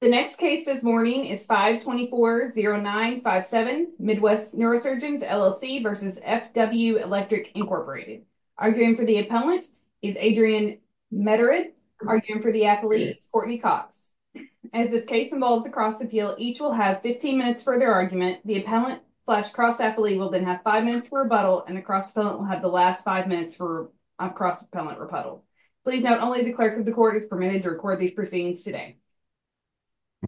The next case this morning is 524-09-57, Midwest Neurosurgeons, LLC v. F.W. Electric, Inc. Arguing for the appellant is Adrienne Medered, arguing for the athlete is Courtney Cox. As this case involves a cross-appeal, each will have 15 minutes for their argument. The appellant slash cross-athlete will then have five minutes for rebuttal, and the cross-appellant will have the last five minutes for cross-appellant rebuttal. Please note, only the clerk of the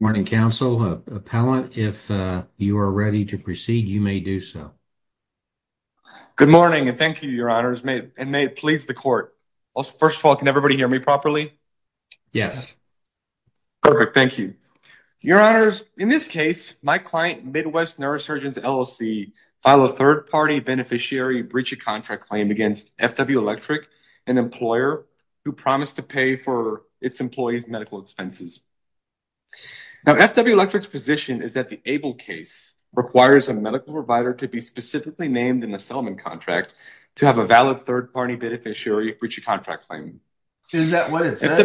Morning, Counsel. Appellant, if you are ready to proceed, you may do so. Good morning, and thank you, Your Honors, and may it please the Court. First of all, can everybody hear me properly? Yes. Perfect, thank you. Your Honors, in this case, my client, Midwest Neurosurgeons, LLC, filed a third-party beneficiary breach of contract claim against F.W. Electric, an employer who promised to pay for its employees' medical expenses. Now, F.W. Electric's position is that the ABLE case requires a medical provider to be specifically named in the settlement contract to have a valid third-party beneficiary of breach of contract claim. Is that what it says?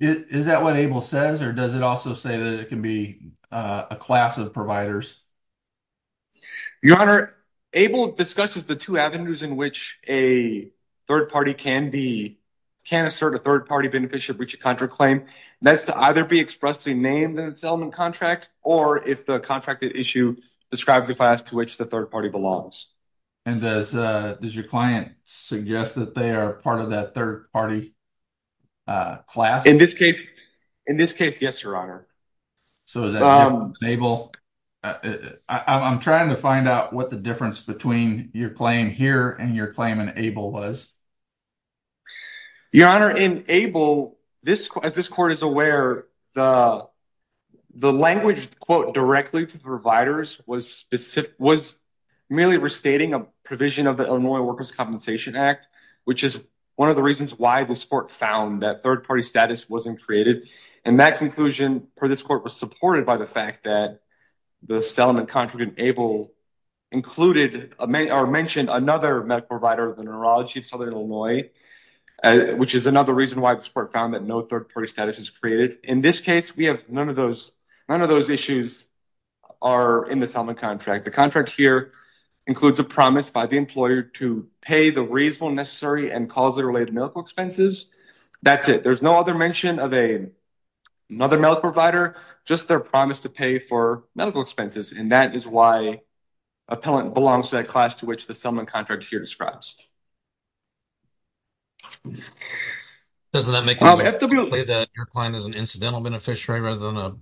Is that what ABLE says, or does it also say that it can be a class of providers? Your Honor, ABLE discusses the two avenues in which a third-party can assert a name in the settlement contract or if the contract issue describes a class to which the third-party belongs. And does your client suggest that they are part of that third-party class? In this case, yes, Your Honor. So is that ABLE? I'm trying to find out what the difference between your claim here and your claim in ABLE was. Your Honor, in ABLE, as this Court is aware, the language, quote, directly to the providers was merely restating a provision of the Illinois Workers' Compensation Act, which is one of the reasons why this Court found that third-party status wasn't created. And that conclusion, per this Court, was supported by the fact that the settlement contract in ABLE included or mentioned another medical provider of the neurology of Southern Illinois, which is another reason why this Court found that no third-party status was created. In this case, none of those issues are in the settlement contract. The contract here includes a promise by the employer to pay the reasonable, necessary, and causally related medical expenses. That's it. There's no other mention of another medical provider, just their promise to pay for medical expenses. And that is why appellant belongs to that class to which the settlement contract here describes. Doesn't that make it clear that your client is an incidental beneficiary rather than a,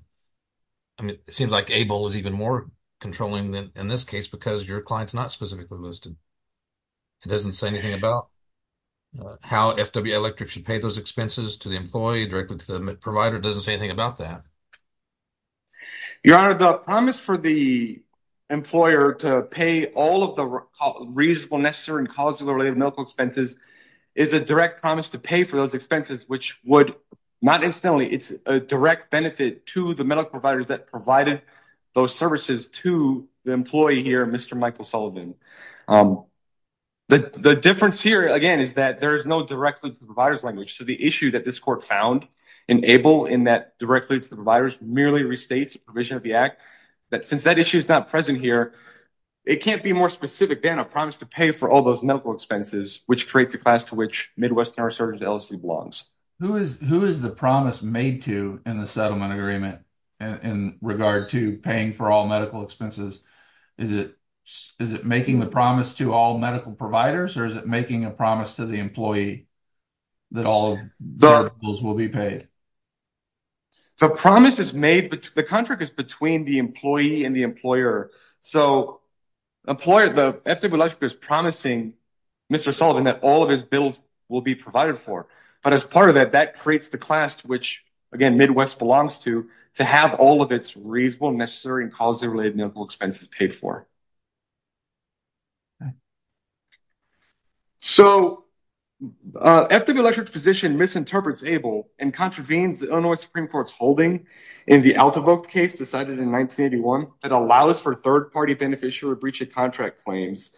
I mean, it seems like ABLE is even more controlling in this case because your client's not specifically listed. It doesn't say anything about how FWA Electric should pay those expenses to the employee directly to the provider. It doesn't say anything about that. Your Honor, the promise for the employer to pay all of the reasonable, necessary, and causally related medical expenses is a direct promise to pay for those expenses, which would, not instantly, it's a direct benefit to the medical providers that provided those services to the employee here, Mr. Michael Sullivan. The difference here, again, is that there is no direct link to the provider's language. So, issue that this court found in ABLE in that direct link to the providers merely restates the provision of the act, that since that issue is not present here, it can't be more specific than a promise to pay for all those medical expenses, which creates a class to which Midwest Neurosurgeons LLC belongs. Who is the promise made to in the settlement agreement in regard to paying for all medical expenses? Is it making the promise to all providers, or is it making a promise to the employee that all of those will be paid? The promise is made, but the contract is between the employee and the employer. So, employer, the FWA Electric is promising Mr. Sullivan that all of his bills will be provided for. But as part of that, that creates the class to which, again, Midwest belongs to, to have all of its reasonable, necessary, and causally related medical expenses paid for. So, FWA Electric's position misinterprets ABLE and contravenes the Illinois Supreme Court's holding in the Altevogt case decided in 1981 that allows for third-party beneficiary breach of contract claims,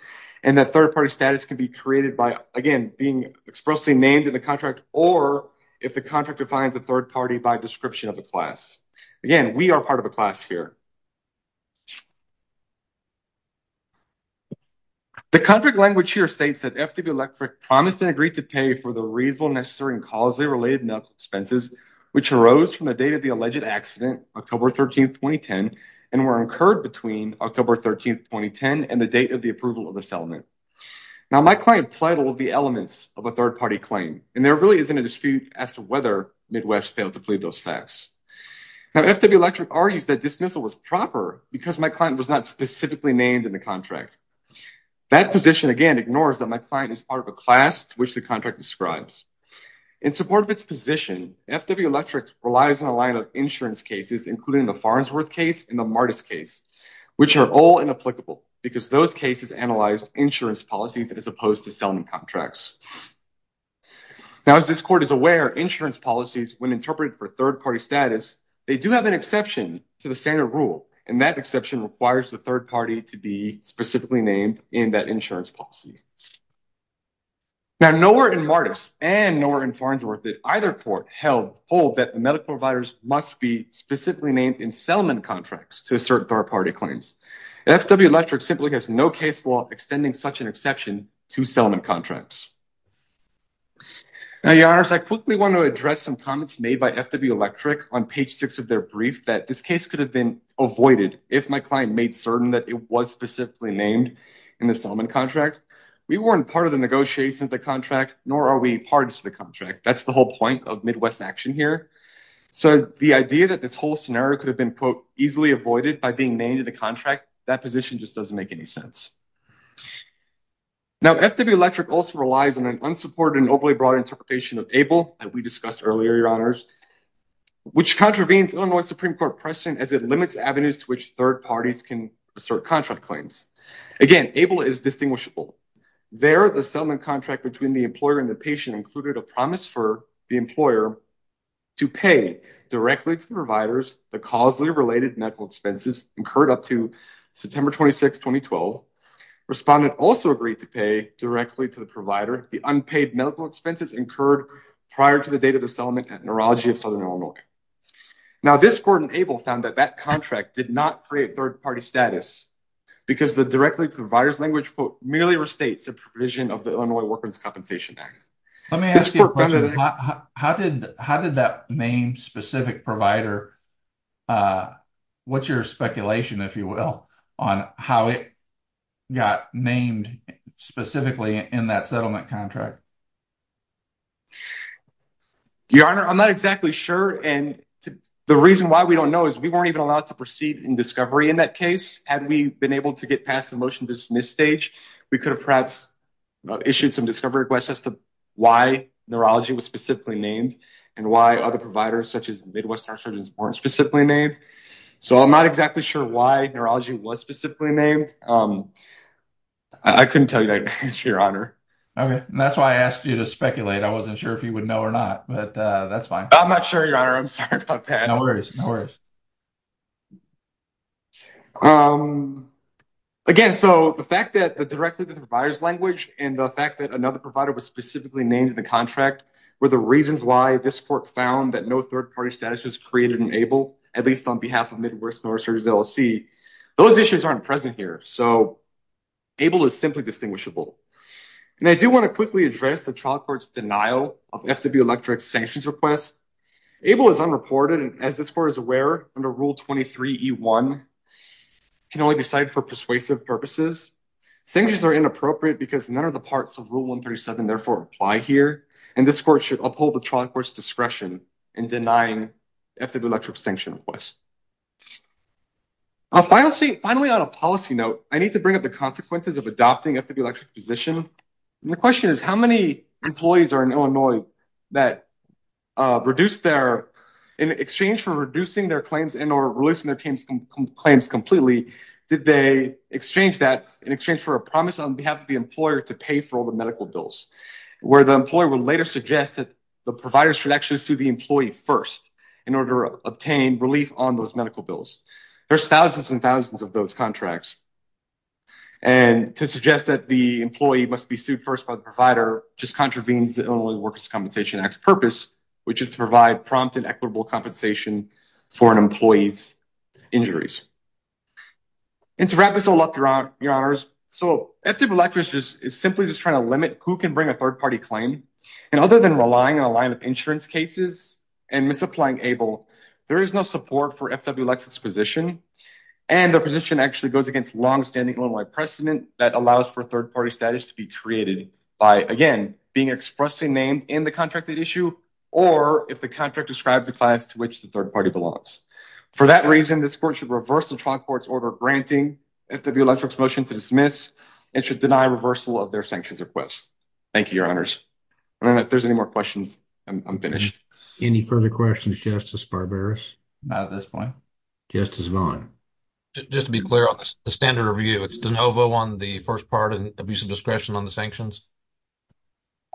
and that third-party status can be created by, again, being expressly named in the contract or if the contract defines a third party by description of the class. Again, we are part of a class here. The contract language here states that FWA Electric promised and agreed to pay for the reasonable, necessary, and causally related medical expenses, which arose from the date of the alleged accident, October 13, 2010, and were incurred between October 13, 2010, and the date of the approval of the settlement. Now, my client plied all of the elements of a third-party claim, and there really isn't a dispute as to whether Midwest failed to plead those facts. Now, FWA Electric argues that dismissal was proper because my client was not specifically named in the contract. That position, again, ignores that my client is part of a class to which the contract describes. In support of its position, FWA Electric relies on a line of insurance cases, including the Farnsworth case and the Martis case, which are all inapplicable because those cases analyzed insurance policies as opposed to settlement contracts. Now, as this court is aware, insurance policies, when interpreted for third-party status, they do have an exception to the standard rule, and that exception requires the third party to be specifically named in that insurance policy. Now, nowhere in Martis and nowhere in Farnsworth did either court hold that the medical providers must be specifically named in settlement contracts to assert third-party claims. FWA Electric simply has no case law extending such an exception to settlement contracts. Now, your honors, I quickly want to address some comments made by FWA Electric on page six of their brief that this case could have been avoided if my client made certain that it was specifically named in the settlement contract. We weren't part of the negotiations of the contract, nor are we parties to the contract. That's the whole point of Midwest action here. So the idea that this whole scenario could have been, quote, easily avoided by being named in the contract, that position just doesn't make any sense. Now, FWA Electric also relies on an unsupported and overly broad interpretation of ABLE that we discussed earlier, your honors, which contravenes Illinois Supreme Court precedent as it limits avenues to which third parties can assert contract claims. Again, ABLE is distinguishable. There, the settlement contract between the employer and the patient included a promise for the employer to pay directly to the providers the causally related medical expenses incurred up to September 26, 2012. Respondent also agreed to pay directly to the provider the unpaid medical expenses incurred prior to the date of the settlement at Neurology of Southern Illinois. Now, this court in ABLE found that that contract did not create third-party status because the directly to the provider's language, quote, merely restates the provision of the Illinois Worker's Compensation Act. Let me ask you a question. How did that name specific provider, what's your speculation, if you will, on how it got named specifically in that settlement contract? Your honor, I'm not exactly sure, and the reason why we don't know is we weren't even allowed to proceed in discovery in that case. Had we been able to get past the motion to dismiss stage, we could have perhaps issued some discovery requests as to why Neurology was specifically named and why other providers such as Midwest Heart Surgeons weren't specifically named. So, I'm not exactly sure why Neurology was specifically named. I couldn't tell you that, your honor. Okay, and that's why I asked you to speculate. I wasn't sure if you would know or not, but that's fine. I'm not sure, your honor. I'm sorry about that. No worries, no worries. Um, again, so the fact that the director of the provider's language and the fact that another provider was specifically named in the contract were the reasons why this court found that no third-party status was created in ABLE, at least on behalf of Midwest Heart Surgeons LLC. Those issues aren't present here, so ABLE is simply distinguishable. And I do want to quickly address the trial court's denial of FW Electric's sanctions request. ABLE is unreported and, as this court is aware, under Rule 23E1, can only be cited for persuasive purposes. Sanctions are inappropriate because none of the parts of Rule 137, therefore, apply here, and this court should uphold the trial court's discretion in denying FW Electric's sanction request. Finally, on a policy note, I need to bring up the consequences of adopting FW Electric's The question is, how many employees are in Illinois that reduced their, in exchange for reducing their claims and or releasing their claims completely, did they exchange that in exchange for a promise on behalf of the employer to pay for all the medical bills, where the employer would later suggest that the providers should actually sue the employee first in order to obtain relief on those medical bills. There's thousands and thousands of those contracts, and to suggest that the employee must be sued first by the provider just contravenes the Illinois Workers' Compensation Act's purpose, which is to provide prompt and equitable compensation for an employee's injuries. And to wrap this all up, Your Honors, so FW Electric is simply just trying to limit who can bring a third-party claim, and other than relying on a line of insurance cases and misapplying ABLE, there is no support for FW Electric's position, and the position actually goes against long-standing Illinois precedent that allows for third-party status to be created by, again, being expressly named in the contracted issue, or if the contract describes the class to which the third party belongs. For that reason, this court should reverse the trial court's order granting FW Electric's motion to dismiss, and should deny reversal of their sanctions request. Thank you, Your Honors. And if there's any more questions, I'm finished. Any further questions, Justice Barberis? Not at this point. Justice Vaughn? Just to be clear on the standard of review, it's de novo on the first part and abuse of discretion on the sanctions?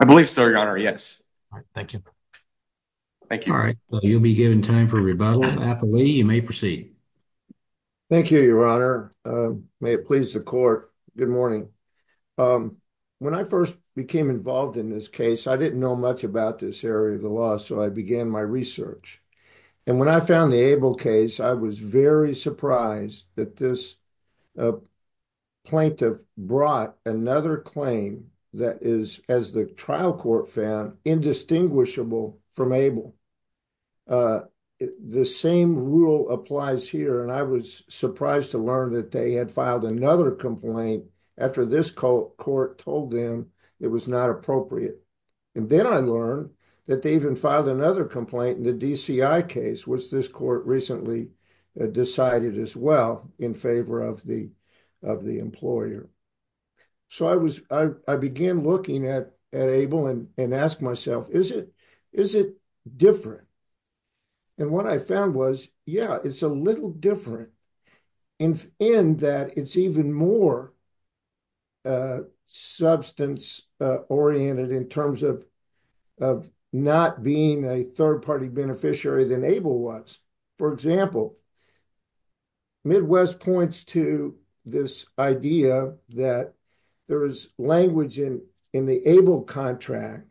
I believe so, Your Honor, yes. All right, thank you. Thank you. All right, you'll be given time for rebuttal. Applee, you may proceed. Thank you, Your Honor. May it please the court. Good morning. When I first became involved in this case, I didn't know much about this area of the law, so I began my research. And when I found the Abel case, I was very surprised that this plaintiff brought another claim that is, as the trial court found, indistinguishable from Abel. The same rule applies here, and I was surprised to learn that they had filed another complaint after this court told them it was not appropriate. And then I learned that they even filed another complaint in the DCI case, which this court recently decided as well, in favor of the employer. So I began looking at Abel and asked myself, is it different? And what I found was, yeah, it's a little different in that it's even more substance-oriented in terms of of not being a third-party beneficiary than Abel was. For example, Midwest points to this idea that there is language in the Abel contract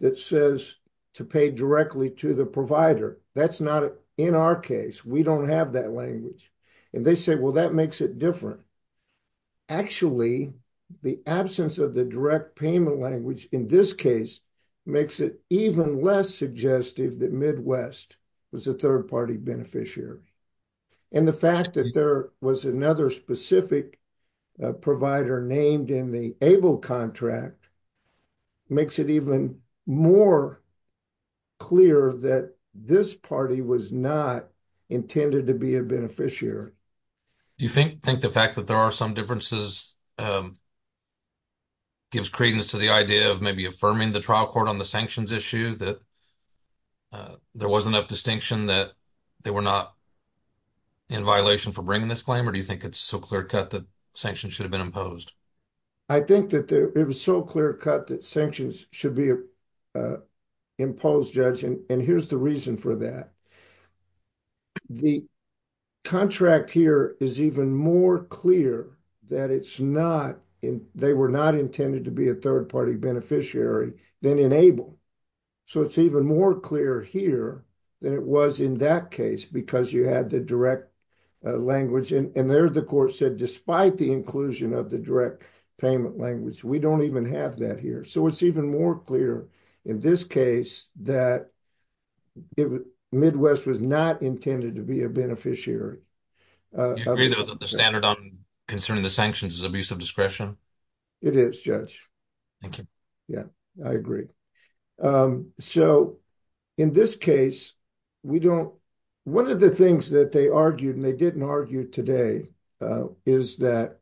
that says to pay directly to the provider. That's not in our case. We don't have that language. And they say, well, that makes it different. Actually, the absence of the direct payment language in this case makes it even less suggestive that Midwest was a third-party beneficiary. And the fact that there was another specific provider named in the Abel contract makes it even more clear that this party was not intended to be a beneficiary. Do you think the fact that there are some differences gives credence to the idea of maybe affirming the trial court on the sanctions issue that there was enough distinction that they were not in violation for bringing this claim, or do you think it's so clear-cut that sanctions should have been imposed? I think that it was so clear-cut that sanctions should be imposed, Judge, and here's the reason for that. The contract here is even more clear that they were not intended to be a third-party beneficiary than in Abel. So it's even more clear here than it was in that case because you had the direct language. And there the court said, despite the inclusion of the direct payment language, we don't even have that here. So it's even more clear in this case that it was Midwest was not intended to be a beneficiary. Do you agree, though, that the standard on concerning the sanctions is abuse of discretion? It is, Judge. Thank you. Yeah, I agree. So in this case, one of the things that they argued and they didn't argue today is that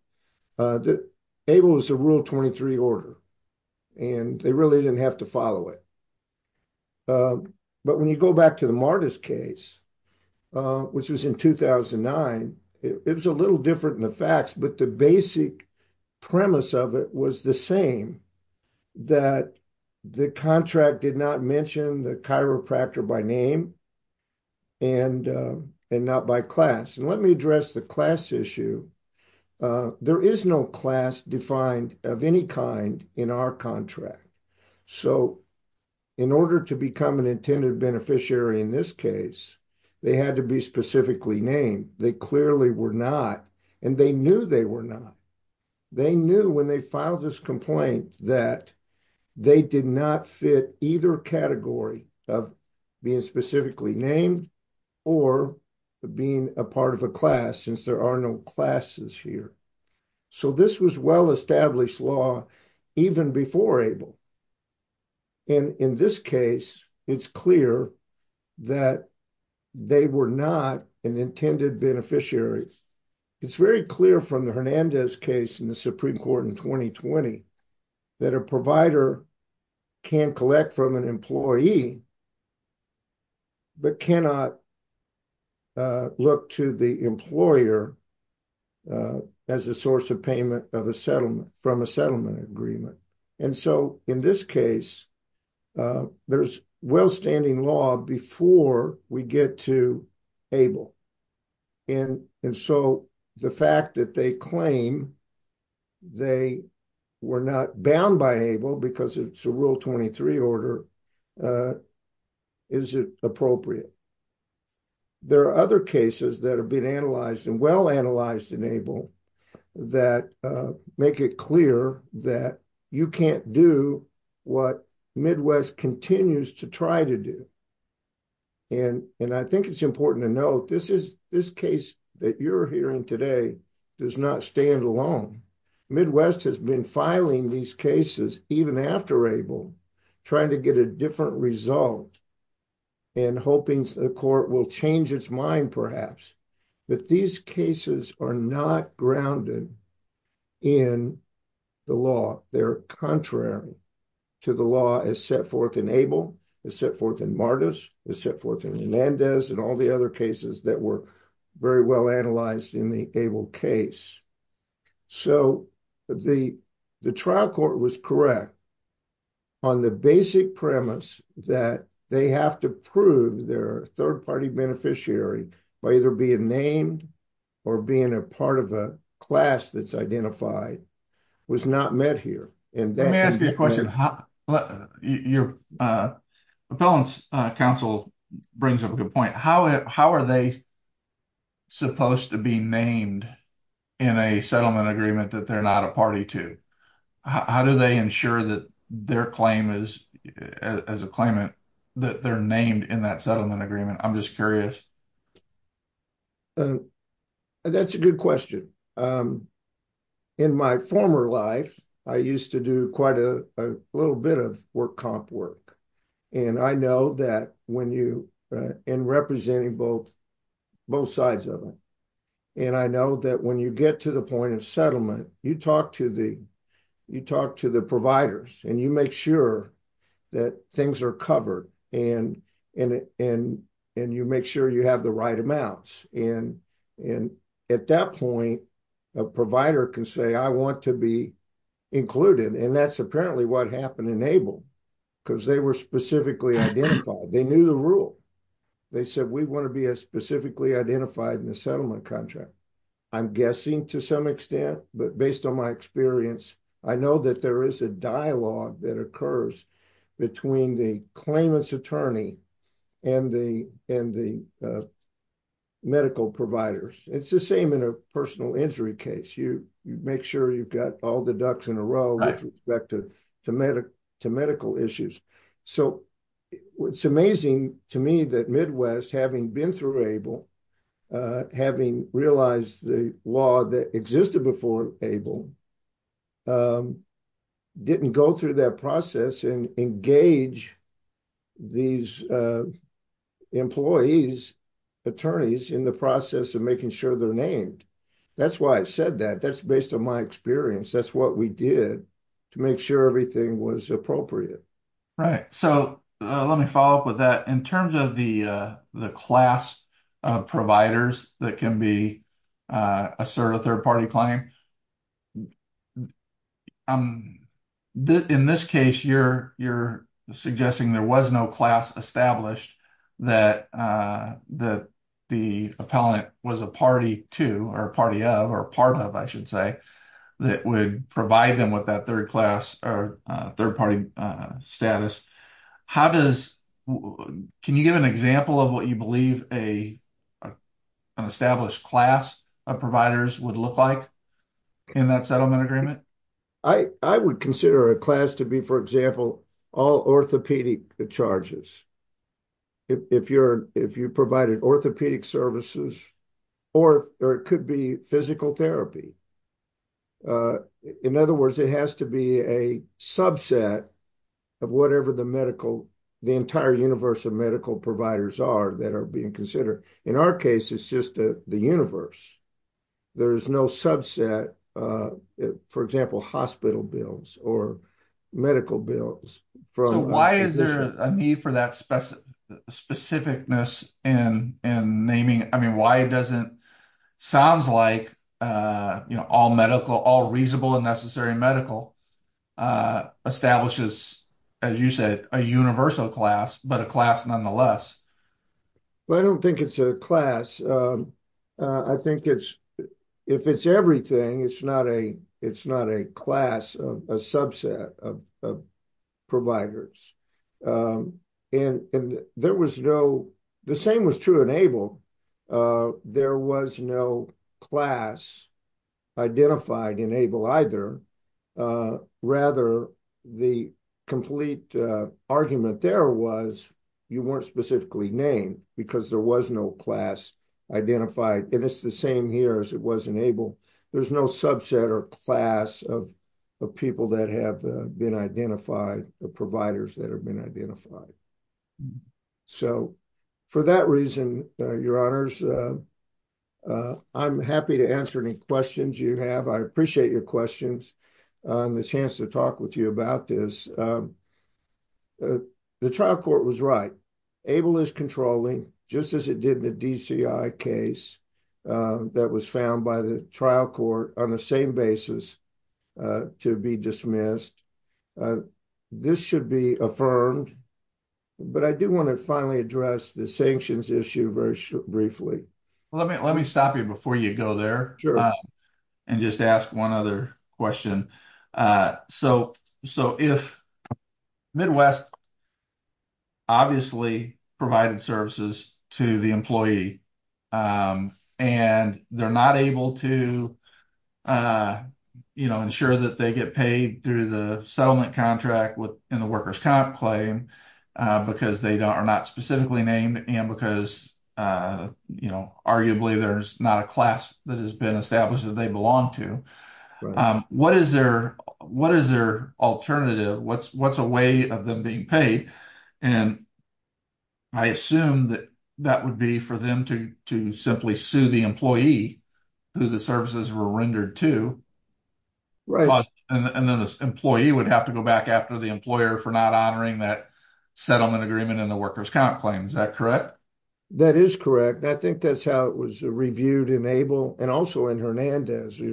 Abel is a Rule 23 order, and they really didn't have to follow it. But when you go back to the Martis case, which was in 2009, it was a little different than the facts, but the basic premise of it was the same, that the contract did not mention the chiropractor by name and not by class. And let me address the class issue. There is no class defined of any kind in our contract. So in order to become an intended beneficiary in this case, they had to be specifically named. They clearly were not, and they knew they were not. They knew when they filed this complaint that they did not fit either category of being specifically named or being a part of a class since there are no classes here. So this was well-established law even before Abel. And in this case, it's clear that they were not an intended beneficiary. It's very clear from the Hernandez case in the Supreme Court in 2020, that a provider can collect from an employee, but cannot look to the employer as a source of payment from a settlement agreement. And so in this case, there's well-standing law before we get to Abel. And so the fact that they claim they were not bound by Abel because it's a Rule 23 order, is it appropriate? There are other cases that have been analyzed and well-analyzed in Abel that make it clear that you can't do what Midwest continues to try to do. And I think it's important to note, this case that you're hearing today does not stand alone. Midwest has been filing these cases even after Abel, trying to get a different result and hoping the court will change its mind, perhaps. But these cases are not grounded in the law. They're contrary to the law as set forth in Abel, as set forth in Martis, as set forth in Hernandez and all the other cases that were very well-analyzed in the Abel case. So the trial court was correct on the basic premise that they have to prove their third-party beneficiary by either being named or being a part of a class that's identified was not met here. Let me ask you a question. Your appellant's counsel brings up a good point. How are they supposed to be named in a settlement agreement that they're not a party to? How do they ensure that their claim as a claimant, that they're named in that settlement agreement? I'm just curious. That's a good question. In my former life, I used to do quite a little bit of work comp work, and I know that when you, in representing both sides of it, and I know that when you get to the point of settlement, you talk to the providers and you make sure that things are covered, and you make sure you have the right amounts. And at that point, a provider can say, I want to be included. And that's apparently what happened in Abel, because they were specifically identified. They knew the rule. They said, we want to be specifically identified in the settlement contract. I'm guessing to some extent, but based on my experience, I know that there is a dialogue that occurs between the claimant's attorney and the medical providers. It's the same in a personal injury case. You make sure you've got all the ducks in a row with respect to medical issues. So it's amazing to me that Midwest, having been through Abel, having realized the law that existed before Abel, didn't go through that process and engage these employees, attorneys in the process of making sure they're named. That's why I said that. That's based on my experience. That's what we did to make sure everything was appropriate. Right. So let me follow up with that. In terms of the class of providers that can assert a third party claim, in this case, you're suggesting there was no class established that the appellant was a party to or a party of or part of, I should say, that would provide them with that third class or third party status. Can you give an example of what you believe an established class of providers would look like in that settlement agreement? I would consider a class to be, for example, all orthopedic charges. If you provided orthopedic services or it could be physical therapy. In other words, it has to be a subset of whatever the medical, the entire universe of medical providers are that are being considered. In our case, it's just the universe. There is no subset, for example, hospital bills or medical bills. Why is there a need for that specificness in naming? Why doesn't it sound like all medical, all reasonable and necessary medical establishes, as you said, a universal class, but a class nonetheless? I don't think it's a class. I think if it's everything, it's not a class of a subset of providers. The same was true in ABLE. There was no class identified in ABLE either. Rather, the complete argument there was you weren't specifically named because there was no class identified. It's the same here as it was in ABLE. There's no subset or class of people that have been identified, the providers that have been identified. For that reason, your honors, I'm happy to answer any questions you have. I appreciate your questions and the chance to talk with you about this. The trial court was right. ABLE is controlling, just as it did in the DCI case, that was found by the trial court on the same basis to be dismissed. This should be affirmed, but I do want to finally address the sanctions issue very briefly. Let me stop you before you go there and just ask one other question. If Midwest obviously provided services to the employee and they're not able to ensure that they get paid through the settlement contract in the worker's comp claim because they are not specifically named and because arguably there's not a class that has what's a way of them being paid. I assume that that would be for them to simply sue the employee who the services were rendered to. Then the employee would have to go back after the employer for not honoring that settlement agreement in the worker's comp claim. Is that correct? That is correct. I think that's how it was reviewed in ABLE and also in Hernandez. The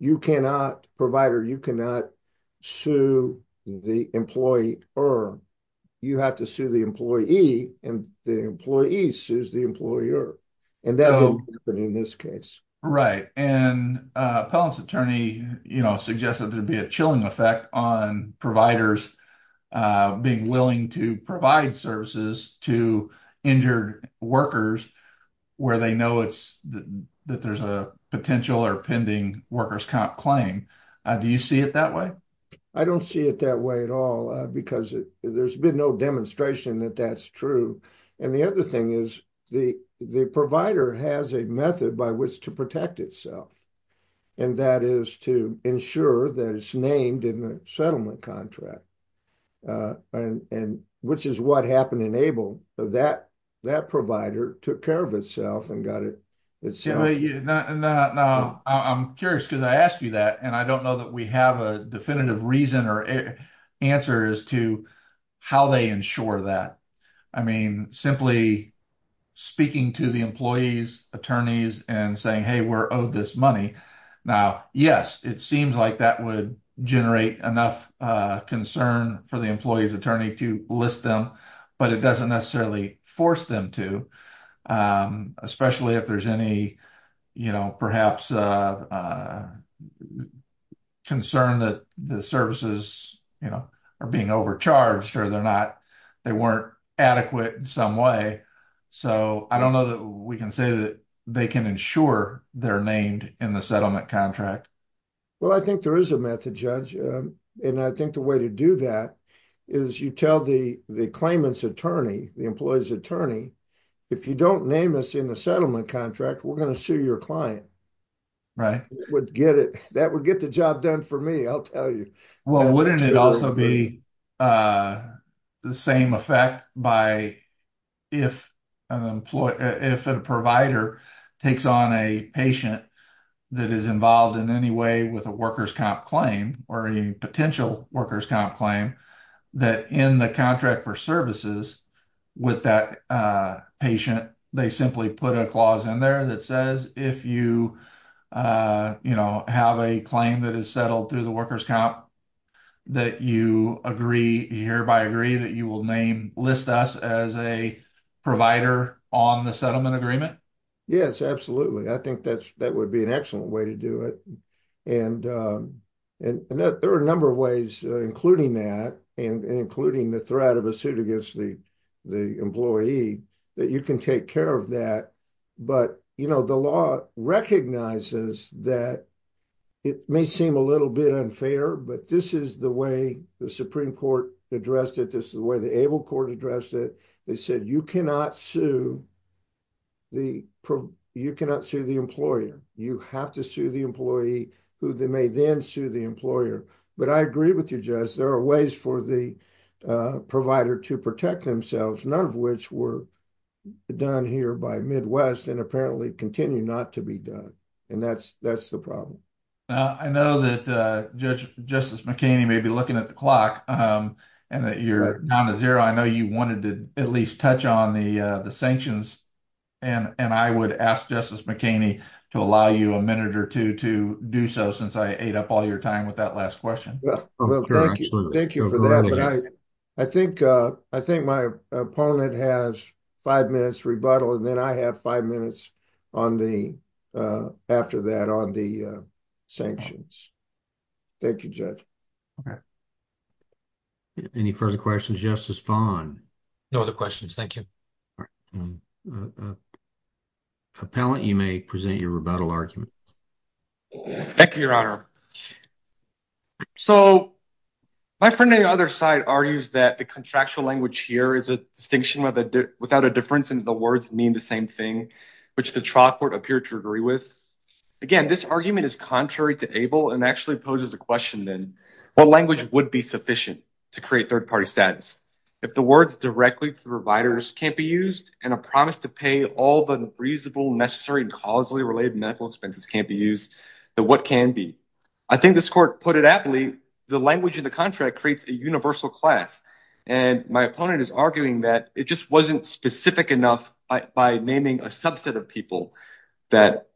you cannot, provider, you cannot sue the employee or you have to sue the employee and the employee sues the employer. That would happen in this case. Appellant's attorney suggested there'd be a chilling effect on providers being willing to provide services to injured workers where they it's that there's a potential or pending worker's comp claim. Do you see it that way? I don't see it that way at all because there's been no demonstration that that's true. The other thing is the provider has a method by which to protect itself and that is to ensure that it's named in the settlement contract, which is what happened in that case. That provider took care of itself and got it. I'm curious because I asked you that and I don't know that we have a definitive reason or answer as to how they ensure that. I mean, simply speaking to the employee's attorneys and saying, hey, we're owed this money. Now, yes, it seems like that would generate enough concern for employee's attorney to list them, but it doesn't necessarily force them to, especially if there's any perhaps concern that the services are being overcharged or they're not, they weren't adequate in some way. I don't know that we can say that they can ensure they're named in the settlement contract. Well, I think there is a method, Judge, and I think the way to do that is you tell the claimant's attorney, the employee's attorney, if you don't name us in the settlement contract, we're going to sue your client. Right. That would get the job done for me, I'll tell you. Well, wouldn't it also be the same effect if a provider takes on a patient that is involved in any way with a workers' comp claim or a potential workers' comp claim that in the contract for services with that patient, they simply put a clause in there that says if you have a claim that is settled through the workers' comp that you agree, you hereby agree that you will name, list us as a provider on the settlement agreement? Yes, absolutely. I think that would be an excellent way to do it. And there are a number of ways, including that, and including the threat of a suit against the employee that you can take care of that. But the law recognizes that it may seem a little bit unfair, but this is the way the Supreme Court addressed it. This is the way the employee who they may then sue the employer. But I agree with you, Judge, there are ways for the provider to protect themselves, none of which were done here by Midwest and apparently continue not to be done. And that's the problem. I know that Justice McKinney may be looking at the clock and that you're down to zero. I know you wanted to at least touch on the sanctions. And I would ask Justice McKinney to allow you a minute or two to do so since I ate up all your time with that last question. Thank you for that. I think my opponent has five minutes rebuttal and then I have five minutes after that on the sanctions. Thank you, Judge. Okay. Any further questions, Justice Fon? No other questions. Thank you. Appellant, you may present your rebuttal argument. Thank you, Your Honor. So, my friend on the other side argues that the contractual language here is a distinction without a difference and the words mean the same thing, which the trial court appeared to agree with. Again, this argument is contrary to ABLE and actually poses a question then, what language would be sufficient to create third-party status? If the words directly to the providers can't be used and a promise to pay all the reasonable, necessary, and causally related medical expenses can't be used, then what can be? I think this court put it aptly, the language in the contract creates a universal class. And my opponent is arguing that it just wasn't specific enough by naming a subset of people that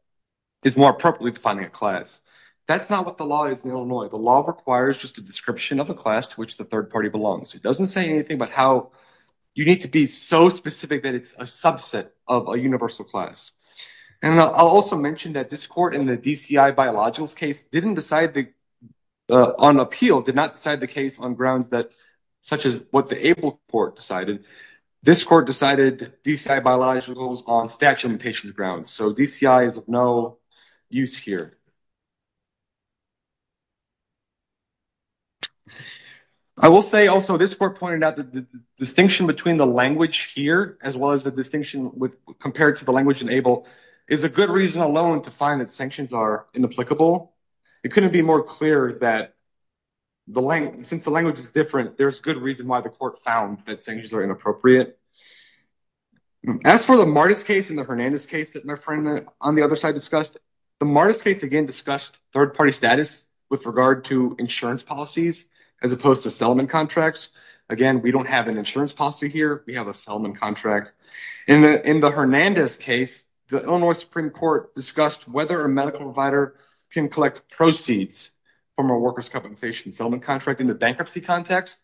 is more appropriately defining a class. That's not what the law is in Illinois. The law requires just a description of a class to which the third party belongs. It doesn't say anything about how you need to be so specific that it's a subset of a universal class. And I'll also mention that this court in the DCI biologicals case didn't decide on appeal, did not decide the case on grounds that such as what the ABLE court decided. This court decided DCI biologicals on statute of limitations grounds. So, DCI is of no use here. I will say also this court pointed out that the distinction between the language here, as well as the distinction with compared to the language in ABLE, is a good reason alone to find that sanctions are inapplicable. It couldn't be more clear that since the language is different, there's good reason why the court found that sanctions are inappropriate. As for the Martis case and the Hernandez case that my friend on the other side discussed, the Martis case again discussed third party status with regard to insurance policies as opposed to settlement contracts. Again, we don't have an insurance policy here, we have a settlement contract. In the Hernandez case, the Illinois Supreme Court discussed whether a medical provider can collect proceeds from a workers' compensation settlement contract in the bankruptcy context.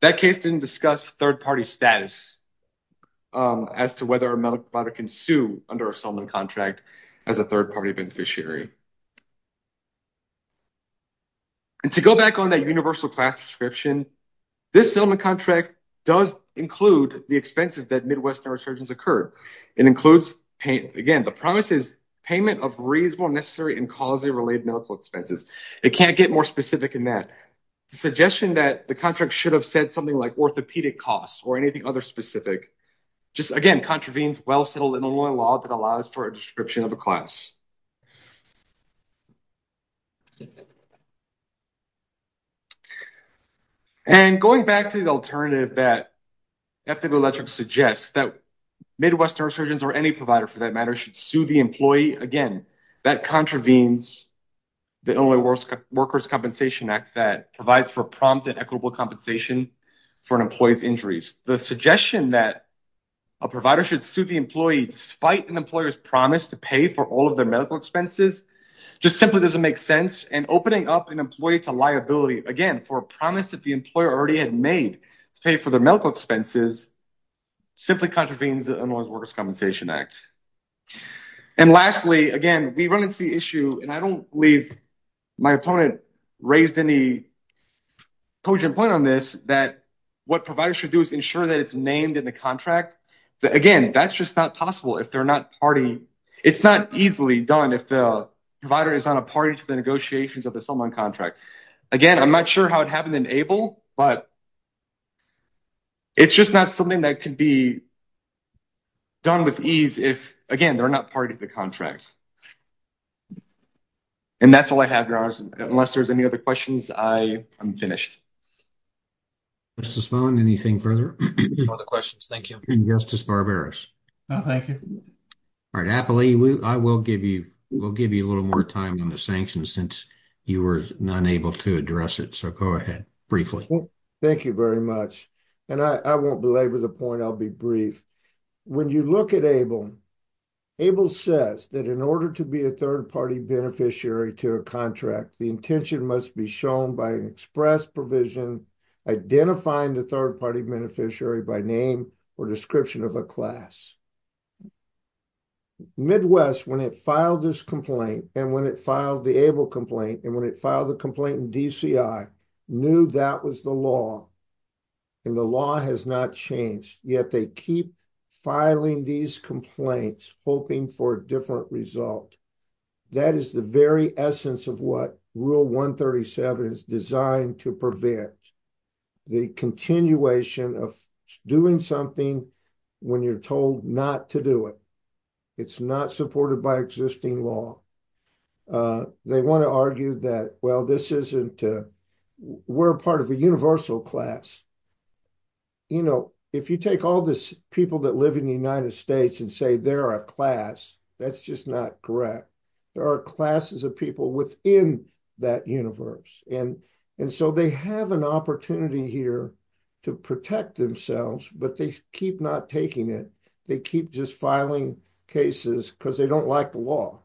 That case didn't discuss third party status as to whether a medical provider can sue under a settlement contract as a third party beneficiary. And to go back on that universal class description, this settlement contract does include the expenses that Midwest neurosurgeons incurred. It includes, again, the promise is payment of reasonable, necessary, and causally related medical expenses. It can't get more specific than that. The suggestion that the contract should have said something like orthopedic costs or anything other specific just, again, contravenes well-settled Illinois law that allows for a description of a class. And going back to the alternative that FW Electric suggests that Midwest neurosurgeons or any provider for that matter should sue the employee, again, that contravenes the Illinois Workers' Compensation Act that provides for prompt and equitable compensation for an employee's injuries. The suggestion that a provider should sue the employee despite an employer's promise to pay for all of their medical expenses just simply doesn't make sense. And opening up an employee to liability, again, for a promise that the employer already had made to pay for their medical expenses, simply contravenes the Illinois Workers' Compensation Act. And lastly, again, we run into the issue, and I don't believe my opponent raised any poignant point on this, that what providers should do is ensure that it's named in the contract. Again, that's just not possible if they're not party, it's not easily done if the provider is not a party to the negotiations of the settlement contract. Again, I'm not sure how it happened in ABLE, but it's just not something that could be done with ease if, again, they're not part of the contract. And that's all I have, Your Honors. Unless there's any other questions, I am finished. Mr. Svahn, anything further? No other questions, thank you. And Justice Barberos. No, thank you. All right, Appley, I will give you a little more time on the sanctions since you were not able to address it, so go ahead, briefly. Thank you very much. And I won't belabor the point, I'll be brief. When you look at ABLE, ABLE says that in order to be a third-party beneficiary to a contract, the intention must be shown by an express provision identifying the third-party beneficiary by name or description of a class. Midwest, when it filed this complaint, and when it filed the ABLE complaint, and when it filed the complaint in DCI, knew that was the law. And the law has not changed, yet they keep filing these complaints, hoping for a different result. That is the very essence of what Rule 137 is designed to prevent, the continuation of doing something when you're told not to do it. It's not supported by existing law. They want to argue that, well, this isn't, we're part of a universal class. You know, if you take all these people that live in the United States and say they're a class, that's just not correct. There are classes of people within that universe. And so they have an opportunity here to protect themselves, but they keep not taking it. They keep just filing cases because they don't like the law.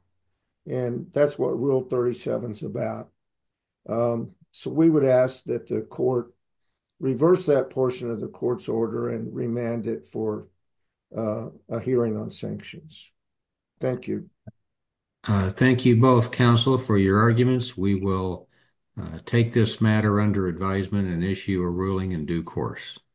And that's what Rule 37 is about. So we would ask that the court reverse that portion of the court's order and remand it for a hearing on sanctions. Thank you. Thank you both, counsel, for your arguments. We will take this matter under advisement and issue a ruling in due course.